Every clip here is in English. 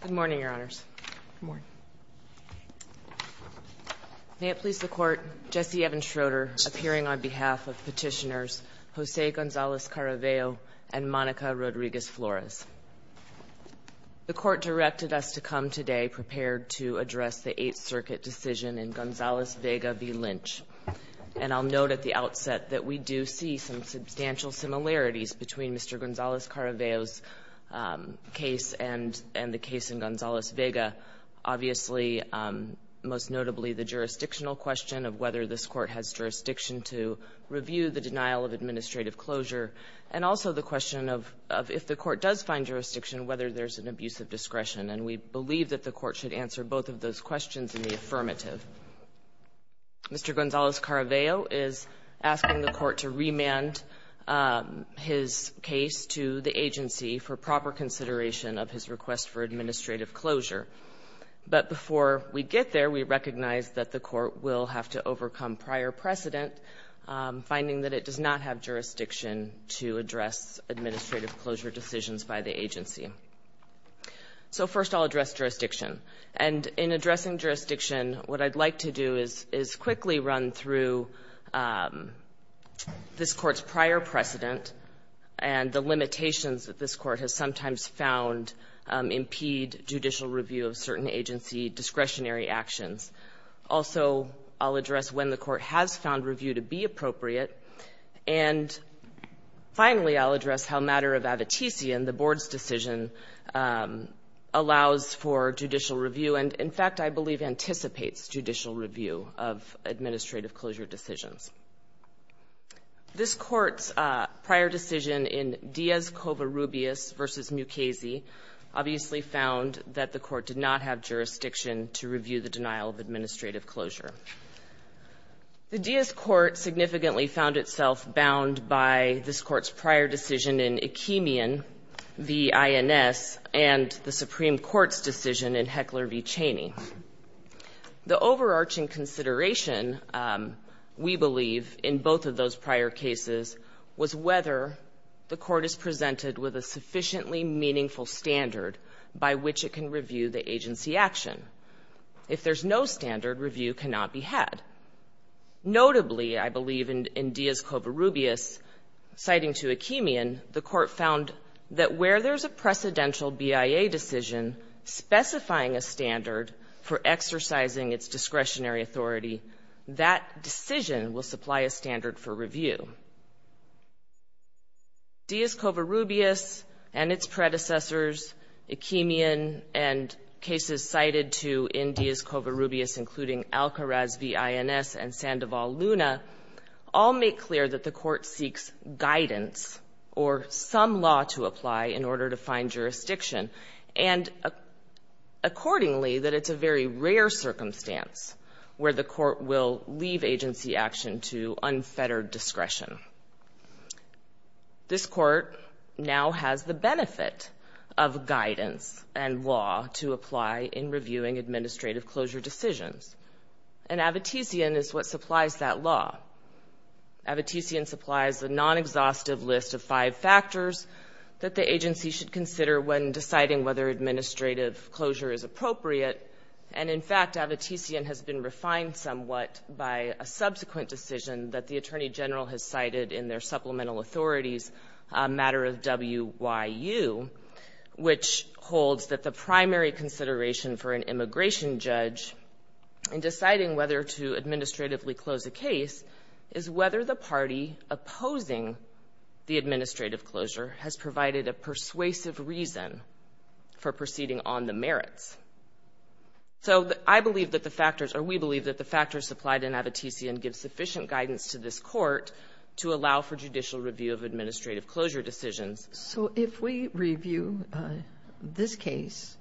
Good morning, your honors. May it please the court, Jesse Evans Schroeder appearing on behalf of petitioners Jose Gonzalez-Caraveo and Monica Rodriguez Flores. The court directed us to come today prepared to address the Eighth Circuit decision in Gonzalez-Vega v. Lynch and I'll note at the outset that we do see some substantial similarities between Mr. Gonzalez-Caraveo's case and the case in Gonzalez-Vega. Obviously, most notably, the jurisdictional question of whether this court has jurisdiction to review the denial of administrative closure and also the question of if the court does find jurisdiction, whether there's an abuse of discretion, and we believe that the court should answer both of those questions in the affirmative. Mr. Gonzalez-Caraveo is asking the court to remand his case to the agency for proper consideration of his request for administrative closure. But before we get there, we recognize that the court will have to overcome prior precedent, finding that it does not have jurisdiction to address administrative closure decisions by the agency. So first, I'll address jurisdiction. And in addressing jurisdiction, what I'd like to do is quickly run through this Court's prior precedent and the limitations that this Court has sometimes found impede judicial review of certain agency discretionary actions. Also, I'll address when the Court has found review to be appropriate. And finally, I'll address how a matter of avatician, the Board's decision, allows for judicial review and, in fact, I believe anticipates judicial review of administrative closure decisions. This Court's prior decision in Diaz-Covarrubias v. Mukasey obviously found that the Court did not have jurisdiction to review the denial of administrative closure. The Diaz Court significantly found itself bound by this Court's prior decision in Ekimian v. INS and the Supreme Court's decision in Heckler v. Cheney. The overarching consideration, we believe, in both of those prior cases was whether the Court is presented with a sufficiently meaningful standard by which it can review the agency action. If there's no standard, review cannot be had. Notably, I believe, in Diaz-Covarrubias, citing to Ekimian, the Court found that where there's a precedential BIA decision specifying a standard for exercising its discretionary authority, that decision will supply a standard for review. Diaz-Covarrubias and its predecessors, Ekimian and cases cited to in Diaz-Covarrubias including Alcaraz v. INS and Sandoval-Luna, all make clear that the Court seeks guidance or some law to apply in order to find jurisdiction. And accordingly, that it's a very rare circumstance where the Court will leave agency action to unfettered discretion. This Court now has the benefit of guidance and law to apply in reviewing administrative closure decisions. And Avitisian is what supplies that law. Avitisian supplies a non-exhaustive list of five factors that the agency should consider when deciding whether administrative closure is appropriate. And in fact, Avitisian has been refined somewhat by a subsequent decision that the Attorney General has cited in their supplemental authorities, a matter of W.Y.U., which holds that the primary consideration for an immigration judge in deciding whether to administratively close a case is whether the party opposing the administrative closure has provided a persuasive reason for proceeding on the merits. So I believe that the factors, or we believe that the factors supplied in Avitisian give sufficient guidance to this Court to allow for judicial review of administrative closure decisions. So if we review this case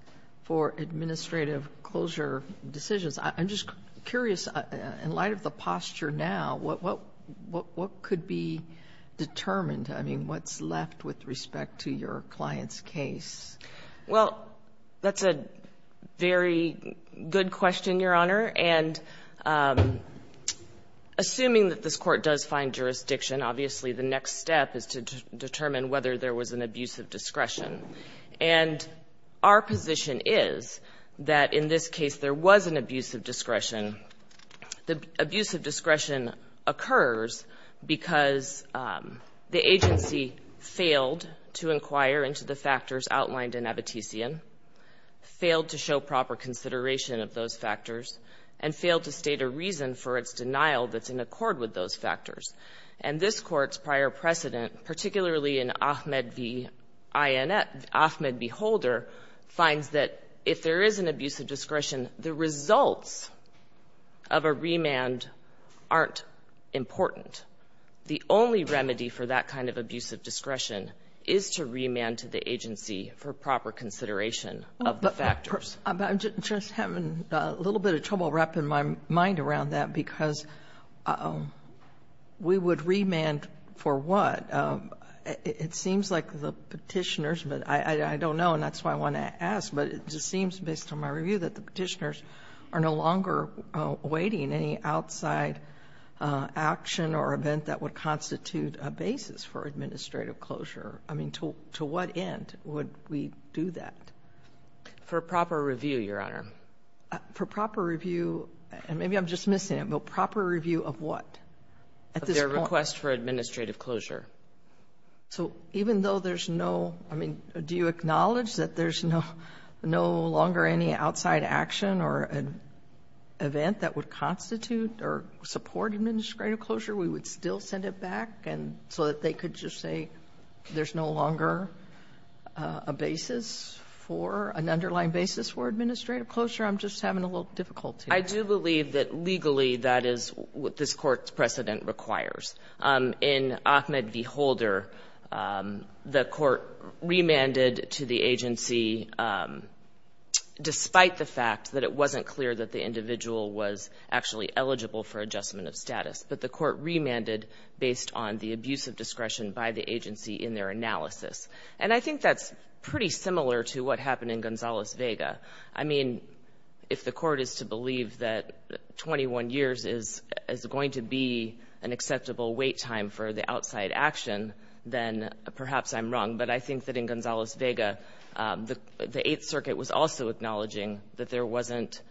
for administrative closure decisions, I'm just curious, in light of the posture now, what could be determined? I mean, what's left with respect to your client's case? Well, that's a very good question, Your Honor. And assuming that this Court does find jurisdiction, obviously, the next step is to determine whether there was an abusive discretion. And our position is that in this case, there was an abusive discretion. The abusive discretion occurs because the agency failed to inquire into the factors outlined in Avitisian, failed to show proper consideration of those factors, and failed to state a reason for its denial that's in accord with those factors. And this Court's prior precedent, particularly in Ahmed v. Inet, Ahmed v. Holder, finds that if there is an abusive discretion, the results of a remand aren't important. The only remedy for that kind of abusive discretion is to remand to the agency for proper consideration of the factors. But I'm just having a little bit of trouble wrapping my mind around that, because we would remand for what? It seems like the Petitioners, but I don't know, and that's why I want to ask, but it just seems, based on my review, that the Petitioners are no longer awaiting any outside action or event that would constitute a basis for administrative closure. I mean, to what end would we do that? For proper review, Your Honor. For proper review, and maybe I'm just missing it, but proper review of what? Of their request for administrative closure. So even though there's no, I mean, do you acknowledge that there's no longer any outside action or event that would constitute or support administrative closure, we would still send it back, so that they could just say there's no longer a basis for, an underlying basis for administrative closure? I'm just having a little difficulty. I do believe that legally that is what this Court's precedent requires. In Ahmed v. Holder, the Court remanded to the agency, despite the fact that it wasn't clear that the individual was actually eligible for adjustment of status, but the Court remanded based on the abuse of discretion by the agency in their analysis. And I think that's pretty similar to what happened in Gonzales-Vega. I mean, if the Court is to believe that 21 years is going to be an acceptable wait time for the outside action, then perhaps I'm wrong. But I think that in Gonzales-Vega, the Eighth Circuit was also acknowledging that there wasn't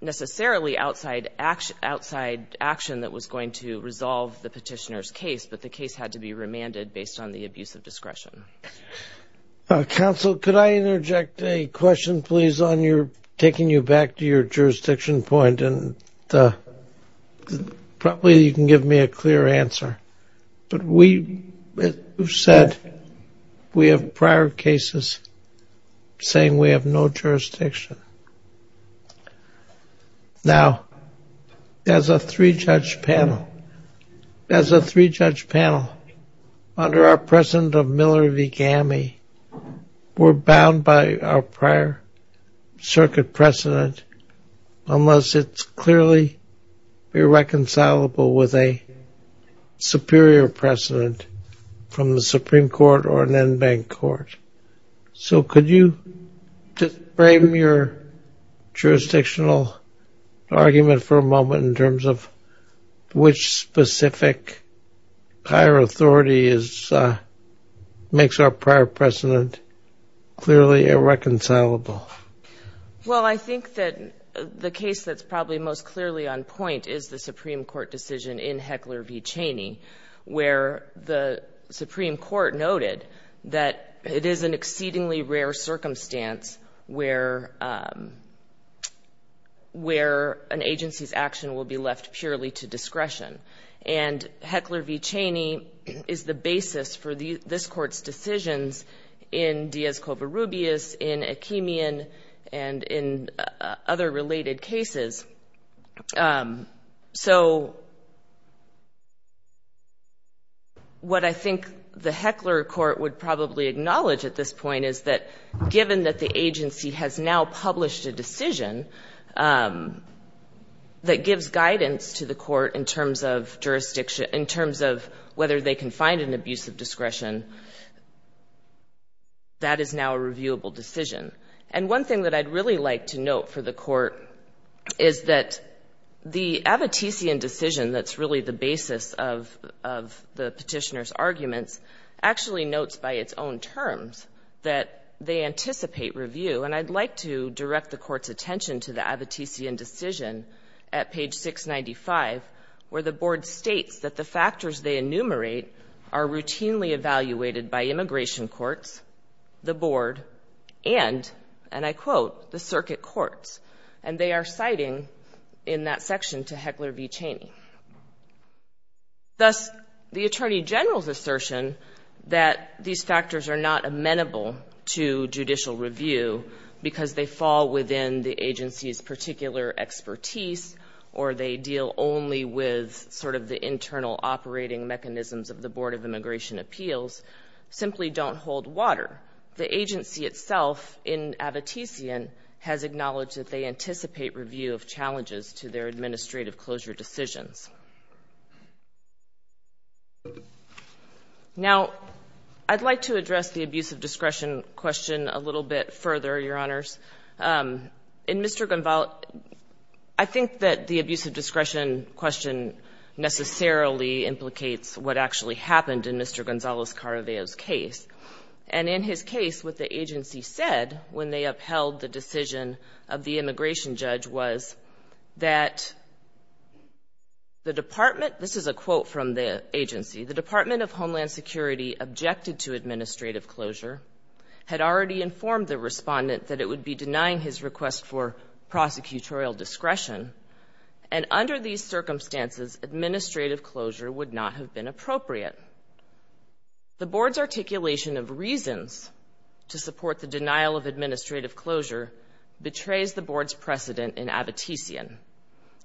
necessarily outside action that was going to resolve the petitioner's case, but the case had to be remanded based on the abuse of discretion. Counsel, could I interject a question, please, on your taking you back to your jurisdiction point, and probably you can give me a clear answer. But we said we have prior cases saying we have no jurisdiction. Now, as a three-judge panel, as a three-judge panel, under our president of Miller v. Gammie, we're bound by our prior circuit precedent unless it's clearly irreconcilable with a superior precedent from the Supreme Court or an en banc court. So could you frame your jurisdictional argument for a moment in terms of which specific higher authority makes our prior precedent clearly irreconcilable? Well, I think that the case that's probably most clearly on point is the Supreme Court decision in Heckler v. Cheney, where the Supreme Court noted that it is an exceedingly rare circumstance where an agency's action will be left purely to discretion. And Heckler v. Cheney is the basis for this Court's decisions in Diaz-Covarrubias, in Akeemian, and in other related cases. So what I think the Heckler court would probably acknowledge at this point is that, given that the agency has now published a decision that gives guidance to the court in terms of whether they can find an abuse of discretion, that is now a reviewable decision. And one thing that I'd really like to note for the Court is that the Abbottesian decision that's really the basis of the Petitioner's arguments actually notes by its own terms that they anticipate review. And I'd like to direct the Court's attention to the Abbottesian decision at page 695, where the Board states that the factors they enumerate are routinely evaluated by immigration courts, the Board, and, and I quote, the circuit courts. And they are citing in that section to Heckler v. Cheney. Thus, the Attorney General's assertion that these factors are not amenable to judicial internal operating mechanisms of the Board of Immigration Appeals simply don't hold water. The agency itself in Abbottesian has acknowledged that they anticipate review of challenges to their administrative closure decisions. Now, I'd like to address the abuse of discretion question a little bit further, Your Honors. In Mr. Gonzalez — I think that the abuse of discretion question necessarily implicates what actually happened in Mr. Gonzalez-Caraveo's case. And in his case, what the agency said when they upheld the decision of the immigration judge was that the department — this is a quote from the agency — the Department of Homeland Security objected to administrative closure, had already informed the respondent that it would be denying his request for prosecutorial discretion, and under these circumstances, administrative closure would not have been appropriate. The Board's articulation of reasons to support the denial of administrative closure betrays the Board's precedent in Abbottesian.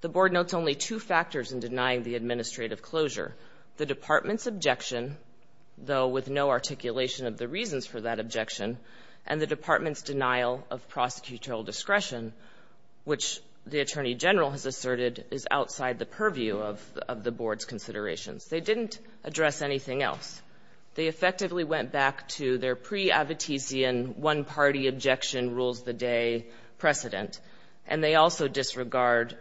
The Board notes only two factors in denying the administrative closure — the department's objection, though with no articulation of the reasons for that objection, and the department's denial of prosecutorial discretion, which the attorney general has asserted is outside the purview of the Board's considerations. They didn't address anything else. They effectively went back to their pre-Abbottesian one-party objection rules the day precedent. And they also disregard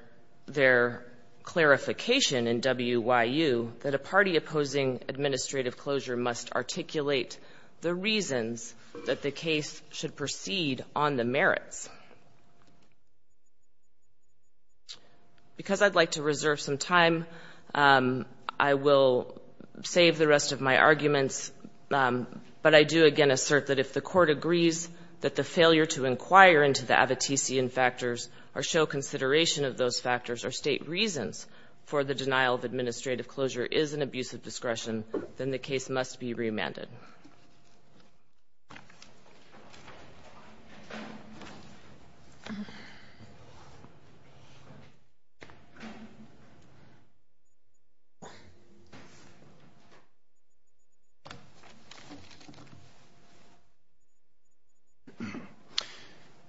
their clarification in WYU that a party opposing administrative closure must articulate the reasons that the case should proceed on the merits. Because I'd like to reserve some time, I will save the rest of my arguments, but I do again assert that if the court agrees that the failure to inquire into the Abbottesian factors or show consideration of those factors or state reasons for the denial of administrative closure is an abuse of discretion, then the case must be remanded.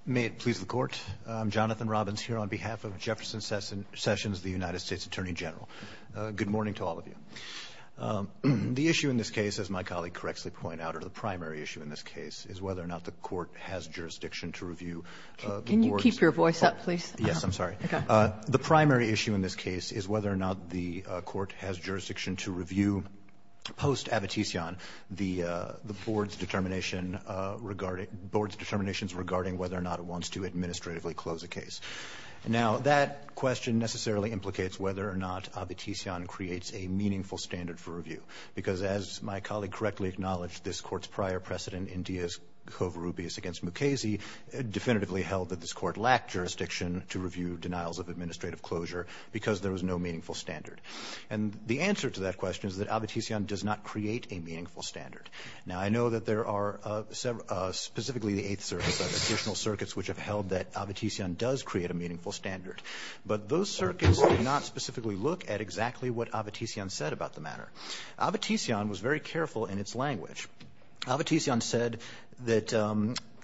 May it please the Court. I'm Jonathan Robbins here on behalf of Jefferson Sessions, the United States Attorney General. Good morning to all of you. The issue in this case, as my colleague correctly pointed out, or the primary issue in this case, is whether or not the Court has jurisdiction to review the Board's determination. The primary issue in this case is whether or not the Court has jurisdiction to review post-Abbottesian the Board's determination regarding whether or not it wants to administratively close a case. Now, that question necessarily implicates whether or not Abbottesian creates a meaningful standard for review, because as my colleague correctly acknowledged, this Court's prior precedent in Dias Covarrubias v. Mukasey definitively held that this Court lacked jurisdiction to review denials of administrative closure because there was no meaningful standard. And the answer to that question is that Abbottesian does not create a meaningful standard. Now, I know that there are specifically the Eighth Circuit, additional circuits which have held that Abbottesian does create a meaningful standard. But those circuits did not specifically look at exactly what Abbottesian said about the matter. Abbottesian was very careful in its language. Abbottesian said that,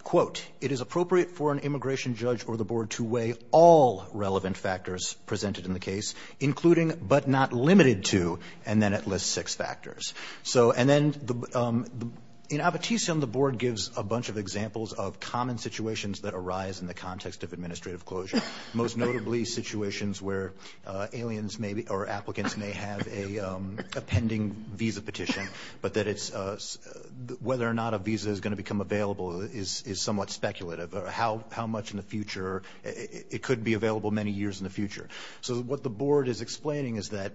quote, it is appropriate for an immigration judge or the Board to weigh all relevant factors presented in the case, including but not limited to, and then it lists six factors. So, and then, in Abbottesian, the Board gives a bunch of examples of common situations that arise in the context of administrative closure, most notably situations where aliens may be, or applicants may have a pending visa petition, but that it's, whether or not a visa is going to become available is somewhat speculative, or how much in the future, it could be available many years in the future. So what the Board is explaining is that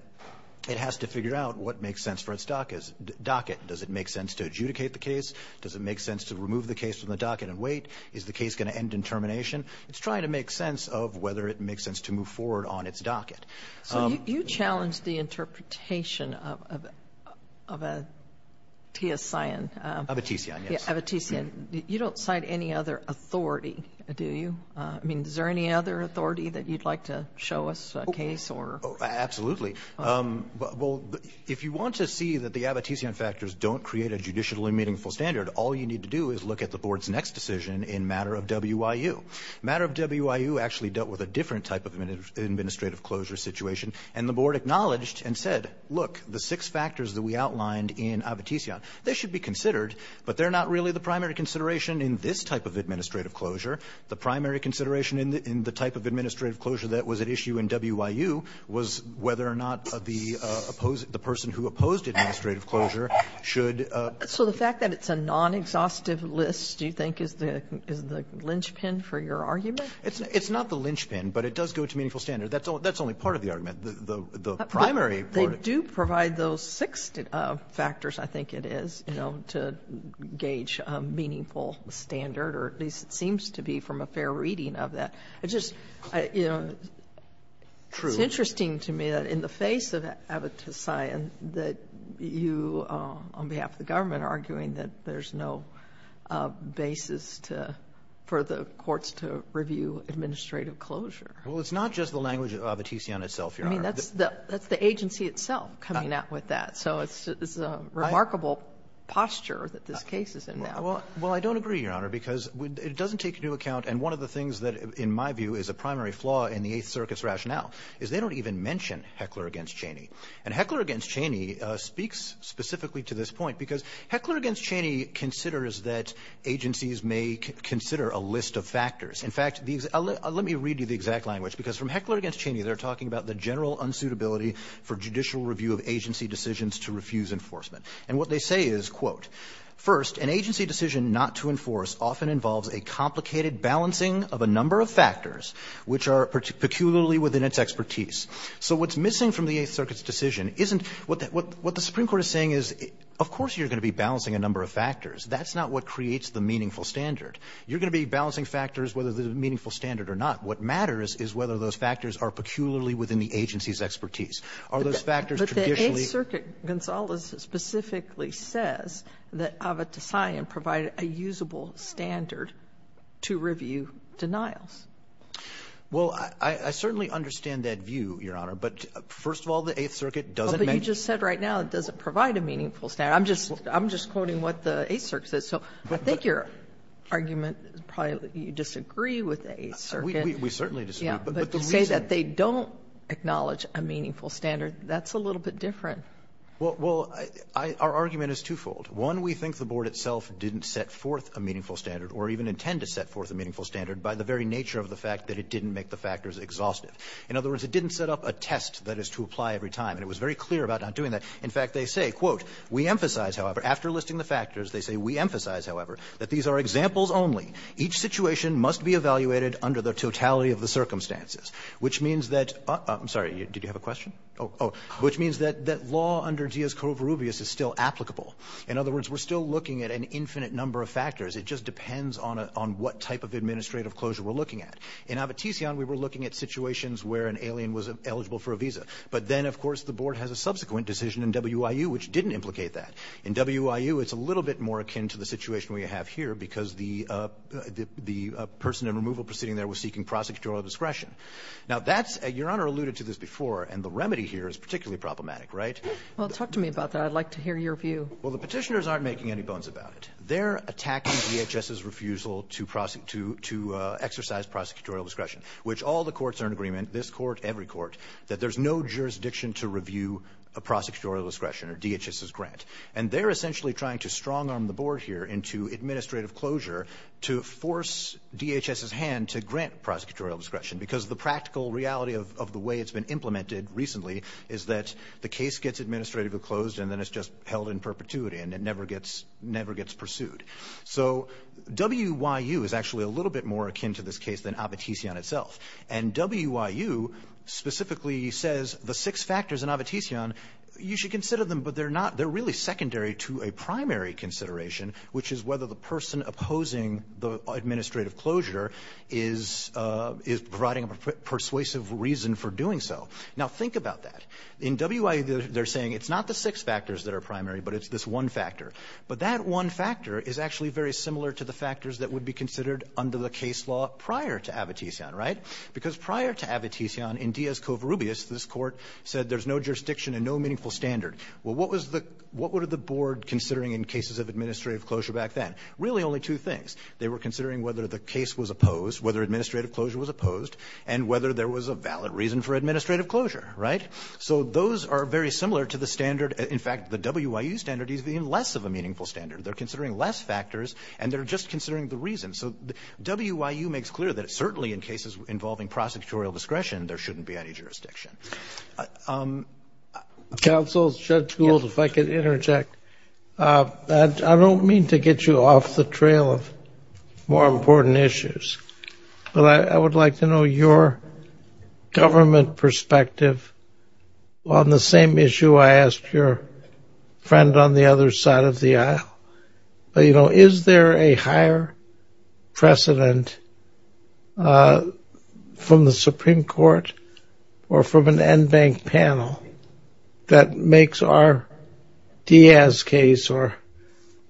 it has to figure out what makes sense for its docket. Does it make sense to adjudicate the case? Does it make sense to remove the case from the docket and wait? Is the case going to end in termination? It's trying to make sense of whether it makes sense to move forward on its docket. So you challenged the interpretation of a TSIN. Abbottesian, yes. Abbottesian. You don't cite any other authority, do you? I mean, is there any other authority that you'd like to show us a case or? Absolutely. Well, if you want to see that the Abbottesian factors don't create a judicially meaningful standard, all you need to do is look at the Board's next decision in matter of WIU. Matter of WIU actually dealt with a different type of administrative closure situation, and the Board acknowledged and said, look, the six factors that we outlined in Abbottesian, they should be considered, but they're not really the primary consideration in this type of administrative closure. The primary consideration in the type of administrative closure that was at issue in WIU was whether or not the person who opposed administrative closure should be considered. So the fact that it's a non-exhaustive list, do you think, is the linchpin for your argument? It's not the linchpin, but it does go to meaningful standard. That's only part of the argument. The primary part of it does go to meaningful standard, or at least it seems to be from a fair reading of that. It's just, you know, it's interesting to me that in the face of Abbottesian that you, on behalf of the government, are arguing that there's no basis to for the courts to review administrative closure. Well, it's not just the language of Abbottesian itself, Your Honor. I mean, that's the agency itself coming out with that. So it's a remarkable posture that this case is in now. Well, I don't agree, Your Honor, because it doesn't take into account, and one of the things that in my view is a primary flaw in the Eighth Circuit's rationale, is they don't even mention Heckler v. Cheney. And Heckler v. Cheney speaks specifically to this point, because Heckler v. Cheney considers that agencies may consider a list of factors. In fact, let me read you the exact language, because from Heckler v. Cheney, they're talking about the general unsuitability for judicial review of agency decisions to refuse enforcement. And what they say is, quote, "'First, an agency decision not to enforce often involves a complicated balancing of a number of factors, which are peculiarly within its expertise.'" So what's missing from the Eighth Circuit's decision isn't what the Supreme Court is saying is, of course you're going to be balancing a number of factors. That's not what creates the meaningful standard. You're going to be balancing factors whether there's a meaningful standard or not. What matters is whether those factors are peculiarly within the agency's expertise. Are those factors traditionally the same? So the Eighth Circuit specifically says that Avatisayan provided a usable standard to review denials. Well, I certainly understand that view, Your Honor. But first of all, the Eighth Circuit doesn't make the meaningful standard. But you just said right now it doesn't provide a meaningful standard. I'm just quoting what the Eighth Circuit says. So I think your argument is probably that you disagree with the Eighth Circuit. We certainly disagree. But the reason they don't acknowledge a meaningful standard, that's a little bit different. Well, our argument is twofold. One, we think the board itself didn't set forth a meaningful standard or even intend to set forth a meaningful standard by the very nature of the fact that it didn't make the factors exhaustive. In other words, it didn't set up a test that is to apply every time. And it was very clear about not doing that. In fact, they say, quote, We emphasize, however, after listing the factors, they say, We emphasize, however, that these are examples only. Each situation must be evaluated under the totality of the circumstances. The law under Díaz-Covarrubias is still applicable. In other words, we're still looking at an infinite number of factors. It just depends on what type of administrative closure we're looking at. In Abitision, we were looking at situations where an alien was eligible for a visa. But then, of course, the board has a subsequent decision in WIU, which didn't implicate that. In WIU, it's a little bit more akin to the situation we have here, because the person in removal proceeding there was seeking prosecutorial discretion. Now, that's, your Honor alluded to this before. And the remedy here is particularly problematic, right? Well, talk to me about that. I'd like to hear your view. Well, the Petitioners aren't making any bones about it. They're attacking DHS's refusal to prosecute to exercise prosecutorial discretion, which all the courts are in agreement, this court, every court, that there's no jurisdiction to review a prosecutorial discretion or DHS's grant. And they're essentially trying to strong-arm the board here into administrative closure to force DHS's hand to grant prosecutorial discretion, because the practical reality of the way it's been implemented recently is that the case gets administratively closed, and then it's just held in perpetuity, and it never gets pursued. So WIU is actually a little bit more akin to this case than Avotisian itself. And WIU specifically says the six factors in Avotisian, you should consider them, but they're not they're really secondary to a primary consideration, which is whether the person opposing the administrative closure is providing a persuasive reason for doing so. Now, think about that. In WIU, they're saying it's not the six factors that are primary, but it's this one factor. But that one factor is actually very similar to the factors that would be considered under the case law prior to Avotisian, right? Because prior to Avotisian, in Dias Covarrubias, this Court said there's no jurisdiction and no meaningful standard. Well, what was the what were the board considering in cases of administrative closure back then? Really only two things. They were considering whether the case was opposed, whether administrative closure was opposed, and whether there was a valid reason for administrative closure, right? So those are very similar to the standard. In fact, the WIU standard is even less of a meaningful standard. They're considering less factors, and they're just considering the reason. So WIU makes clear that certainly in cases involving prosecutorial discretion, there shouldn't be any jurisdiction. Counsel, Judge Gould, if I could interject. I don't mean to get you off the trail of more important issues, but I would like to know your government perspective on the same issue I asked your friend on the other side of the aisle. You know, is there a higher precedent from the Supreme Court or from an NBANC panel that makes our Diaz case or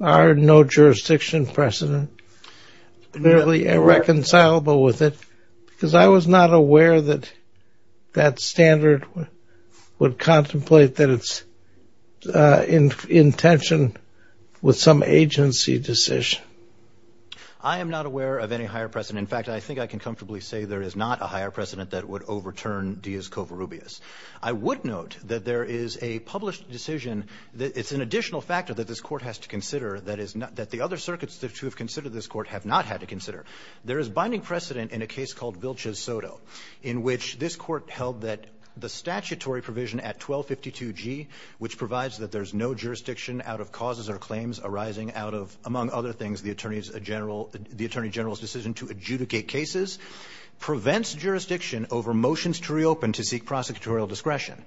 our no-jurisdiction precedent really irreconcilable with it? Because I was not aware that that standard would contemplate that its intention was some agency decision. I am not aware of any higher precedent. In fact, I think I can comfortably say there is not a higher precedent that would overturn Diaz-Covarrubias. I would note that there is a published decision that it's an additional factor that this Court has to consider that the other circuits that have considered this Court have not had to consider. There is binding precedent in a case called Vilces Soto, in which this Court held that the statutory provision at 1252G, which provides that there's no jurisdiction out of causes or claims arising out of, among other things, the Attorney General's decision to adjudicate cases, prevents jurisdiction over motions to reopen to seek prosecutorial discretion.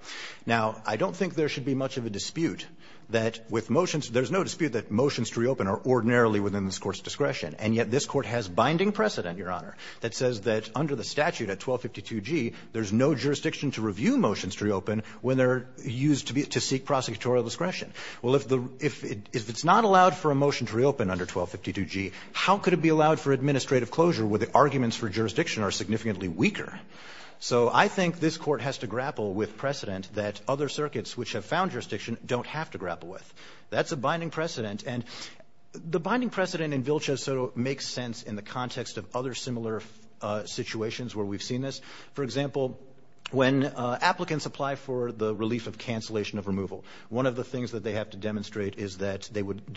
Now, I don't think there should be much of a dispute that with motions – there's no dispute that motions to reopen are ordinarily within this Court's discretion. And yet this Court has binding precedent, Your Honor, that says that under the statute at 1252G, there's no jurisdiction to review motions to reopen when they're used to seek prosecutorial discretion. Well, if the – if it's not allowed for a motion to reopen under 1252G, how could it be allowed for administrative closure where the arguments for jurisdiction are significantly weaker? So I think this Court has to grapple with precedent that other circuits which have found jurisdiction don't have to grapple with. That's a binding precedent. And the binding precedent in Vilces Soto makes sense in the context of other similar situations where we've seen this. For example, when applicants apply for the relief of cancellation of removal, one of the things that they have to demonstrate is that they would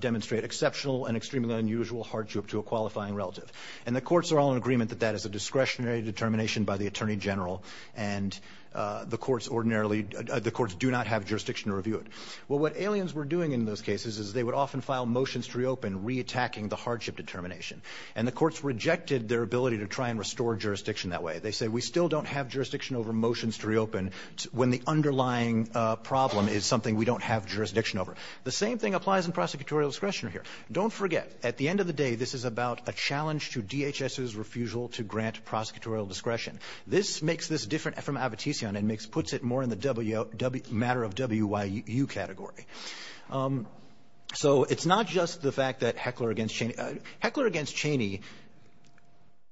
demonstrate exceptional and extremely unusual hardship to a qualifying relative. And the courts are all in agreement that that is a discretionary determination by the attorney general, and the courts ordinarily – the courts do not have jurisdiction to review it. Well, what aliens were doing in those cases is they would often file motions to reopen, reattacking the hardship determination. And the courts rejected their ability to try and restore jurisdiction that way. They said we still don't have jurisdiction over motions to reopen when the underlying problem is something we don't have jurisdiction over. The same thing applies in prosecutorial discretion here. Don't forget, at the end of the day, this is about a challenge to DHS's refusal to grant prosecutorial discretion. This makes this different from Abitision and makes – puts it more in the W – matter of WIU category. So it's not just the fact that Heckler v. Cheney – Heckler v. Cheney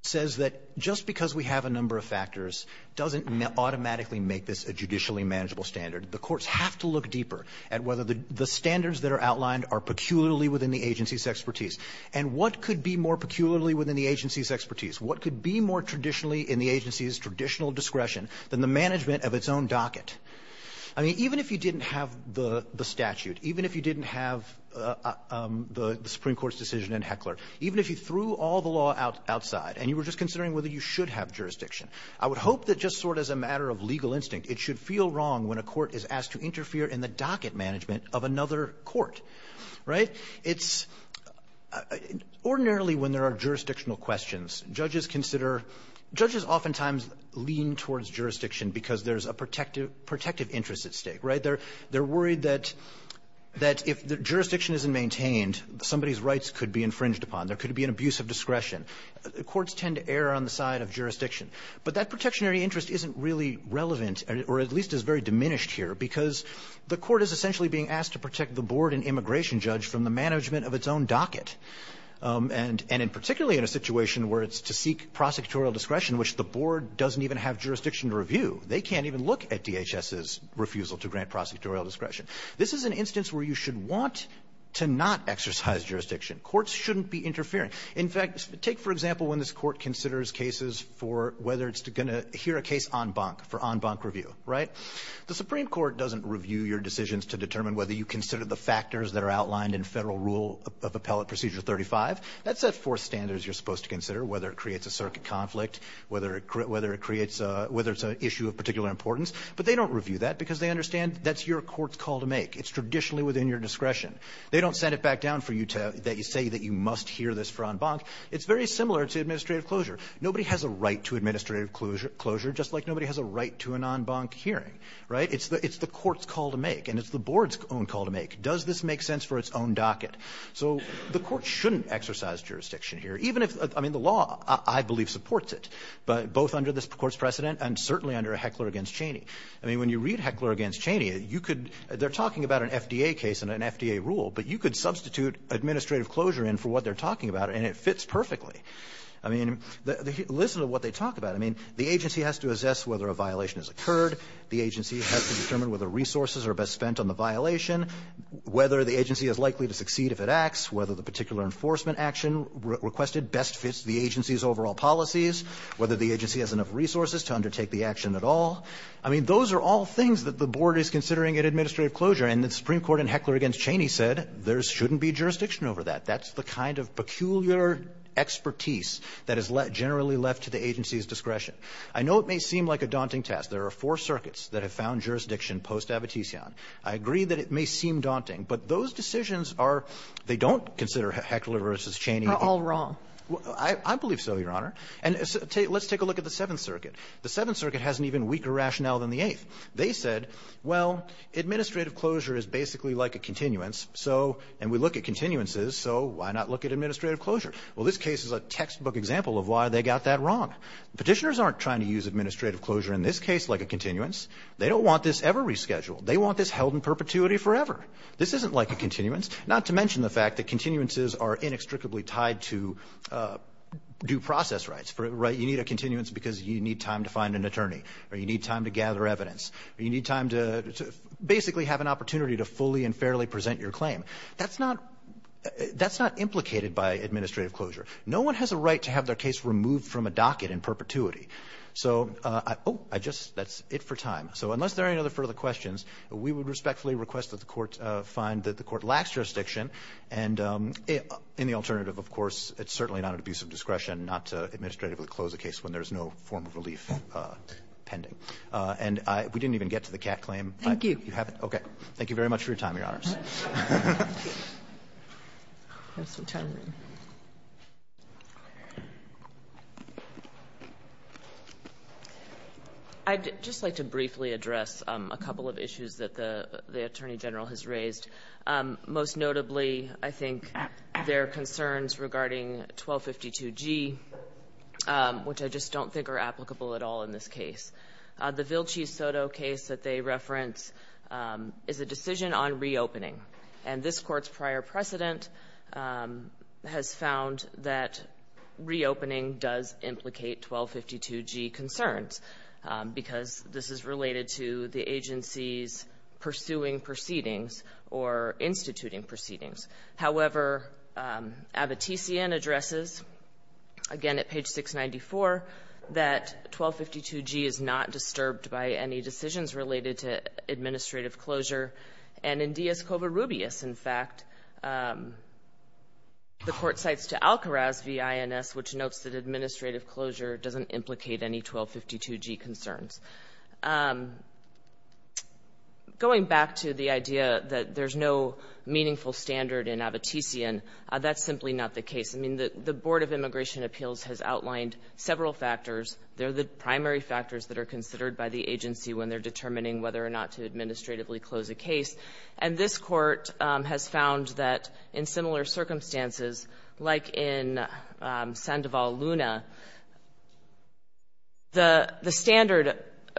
says that just because we have a number of factors doesn't automatically make this a judicially manageable standard. The courts have to look deeper at whether the standards that are outlined are peculiarly within the agency's expertise. And what could be more peculiarly within the agency's expertise? What could be more traditionally in the agency's traditional discretion than the management of its own docket? I mean, even if you didn't have the statute, even if you didn't have the Supreme Court's decision in Heckler, even if you threw all the law outside and you were just considering whether you should have jurisdiction, I would hope that just sort of as a matter of legal instinct, it should feel wrong when a court is asked to interfere in the docket management of another court, right? It's – ordinarily, when there are jurisdictional questions, judges consider – judges oftentimes lean towards jurisdiction because there's a protective interest at stake, right? They're worried that if jurisdiction isn't maintained, somebody's rights could be infringed upon, there could be an abuse of discretion. Courts tend to err on the side of jurisdiction. But that protectionary interest isn't really relevant, or at least is very diminished here, because the court is essentially being asked to protect the board and immigration judge from the management of its own docket. And in particularly in a situation where it's to seek prosecutorial discretion, which the board doesn't even have jurisdiction to review. They can't even look at DHS's refusal to grant prosecutorial discretion. This is an instance where you should want to not exercise jurisdiction. Courts shouldn't be interfering. In fact, take, for example, when this Court considers cases for whether it's going to hear a case en banc, for en banc review, right? The Supreme Court doesn't review your decisions to determine whether you consider the factors that are outlined in Federal Rule of Appellate Procedure 35. That's the four standards you're supposed to consider, whether it creates a circuit conflict, whether it creates a – whether it's an issue of particular importance. But they don't review that because they understand that's your court's call to make. It's traditionally within your discretion. They don't send it back down for you to – that you say that you must hear this for en banc. It's very similar to administrative closure. Nobody has a right to administrative closure just like nobody has a right to an en banc hearing, right? It's the court's call to make, and it's the board's own call to make. Does this make sense for its own docket? So the court shouldn't exercise jurisdiction here, even if – I mean, the law, I believe, supports it, both under this Court's precedent and certainly under Heckler v. Cheney. I mean, when you read Heckler v. Cheney, you could – they're talking about an FDA case and an FDA rule, but you could substitute administrative closure in for what they're talking about, and it fits perfectly. I mean, listen to what they talk about. I mean, the agency has to assess whether a violation has occurred. The agency has to determine whether resources are best spent on the violation, whether the agency is likely to succeed if it acts, whether the particular enforcement action requested best fits the agency's overall policies, whether the agency has enough resources to undertake the action at all. I mean, those are all things that the board is considering in administrative closure. And the Supreme Court in Heckler v. Cheney said there shouldn't be jurisdiction over that. That's the kind of peculiar expertise that is generally left to the agency's discretion. I know it may seem like a daunting task. There are four circuits that have found jurisdiction post-abitision. I agree that it may seem daunting, but those decisions are – they don't consider Heckler v. Cheney. Kagan. Kagan. They're all wrong. I believe so, Your Honor. And let's take a look at the Seventh Circuit. The Seventh Circuit has an even weaker rationale than the Eighth. They said, well, administrative closure is basically like a continuance, so – and we look at continuances, so why not look at administrative closure? Well, this case is a textbook example of why they got that wrong. Petitioners aren't trying to use administrative closure in this case like a continuance. They don't want this ever rescheduled. They want this held in perpetuity forever. This isn't like a continuance, not to mention the fact that continuances are inextricably tied to due process rights. You need a continuance because you need time to find an attorney or you need time to gather evidence or you need time to basically have an opportunity to fully and fairly present your claim. That's not – that's not implicated by administrative closure. No one has a right to have their case removed from a docket in perpetuity. So I – oh, I just – that's it for time. So unless there are any other further questions, we would respectfully request that the Court find that the Court lacks jurisdiction, and in the alternative, of course, it's certainly not an abuse of discretion not to administratively close a case when there's no form of relief pending. And I – we didn't even get to the Catt claim. Thank you. You haven't? Okay. Thank you very much for your time, Your Honors. I'd just like to briefly address a couple of issues that the Attorney General has raised. Most notably, I think, their concerns regarding 1252G, which I just don't think are applicable at all in this case. The Vilcci-Soto case that they reference is a decision on reopening. And this Court's prior precedent has found that reopening does implicate 1252G concerns, because this is related to the agency's pursuing proceedings or instituting proceedings. However, Abbottisian addresses, again, at page 694, that 1252G is not disturbed by any decisions related to administrative closure. And in Díaz-Cova-Rubias, in fact, the Court cites to Alcaraz v. INS, which notes that administrative closure doesn't implicate any 1252G concerns. Going back to the idea that there's no meaningful standard in Abbottisian, that's simply not the case. I mean, the Board of Immigration Appeals has outlined several factors. They're the primary factors that are considered by the agency when they're determining whether or not to administratively close a case. And this Court has found that in similar circumstances, like in Sandoval-Luna, the standard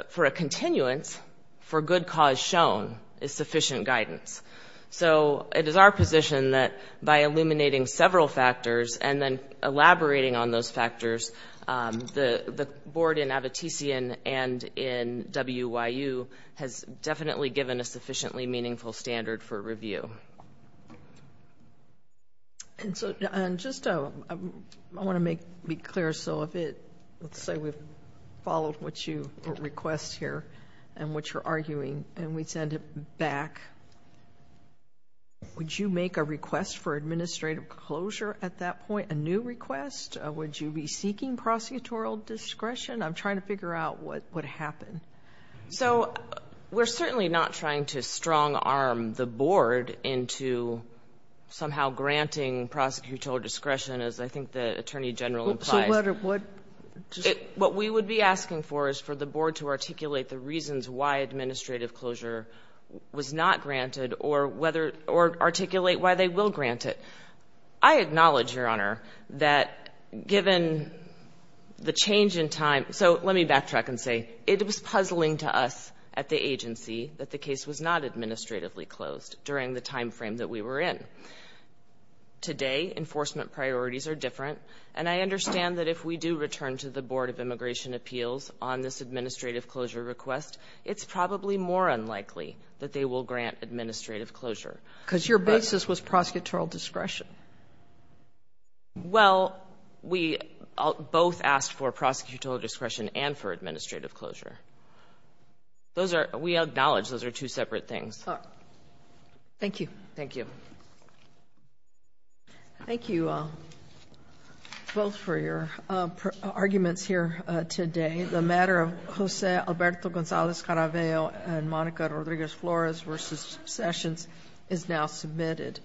for a continuance for good cause shown is sufficient guidance. So it is our position that by illuminating several factors and then elaborating on those factors, the Board in Abbottisian and in WYU has definitely given a sufficiently meaningful standard for review. And so, just I want to make it clear. So if it, let's say we've followed what you request here and what you're arguing and we send it back, would you make a request for administrative closure at that point, a new request? Would you be seeking prosecutorial discretion? I'm trying to figure out what would happen. So we're certainly not trying to strong-arm the Board into somehow granting prosecutorial discretion, as I think the Attorney General implies. What we would be asking for is for the Board to articulate the reasons why administrative closure was not granted or whether, or articulate why they will grant it. I acknowledge, Your Honor, that given the change in time, so let me backtrack and say it was puzzling to us at the agency that the case was not administratively closed during the time frame that we were in. Today, enforcement priorities are different, and I understand that if we do return to the Board of Immigration Appeals on this administrative closure request, it's probably more unlikely that they will grant administrative closure. Because your basis was prosecutorial discretion. Well, we both asked for prosecutorial discretion and for administrative closure. Those are, we acknowledge those are two separate things. All right. Thank you. Thank you. Thank you both for your arguments here today. The matter of José Alberto González Caraveo and Mónica Rodríguez-Flores v. Sessions is now submitted.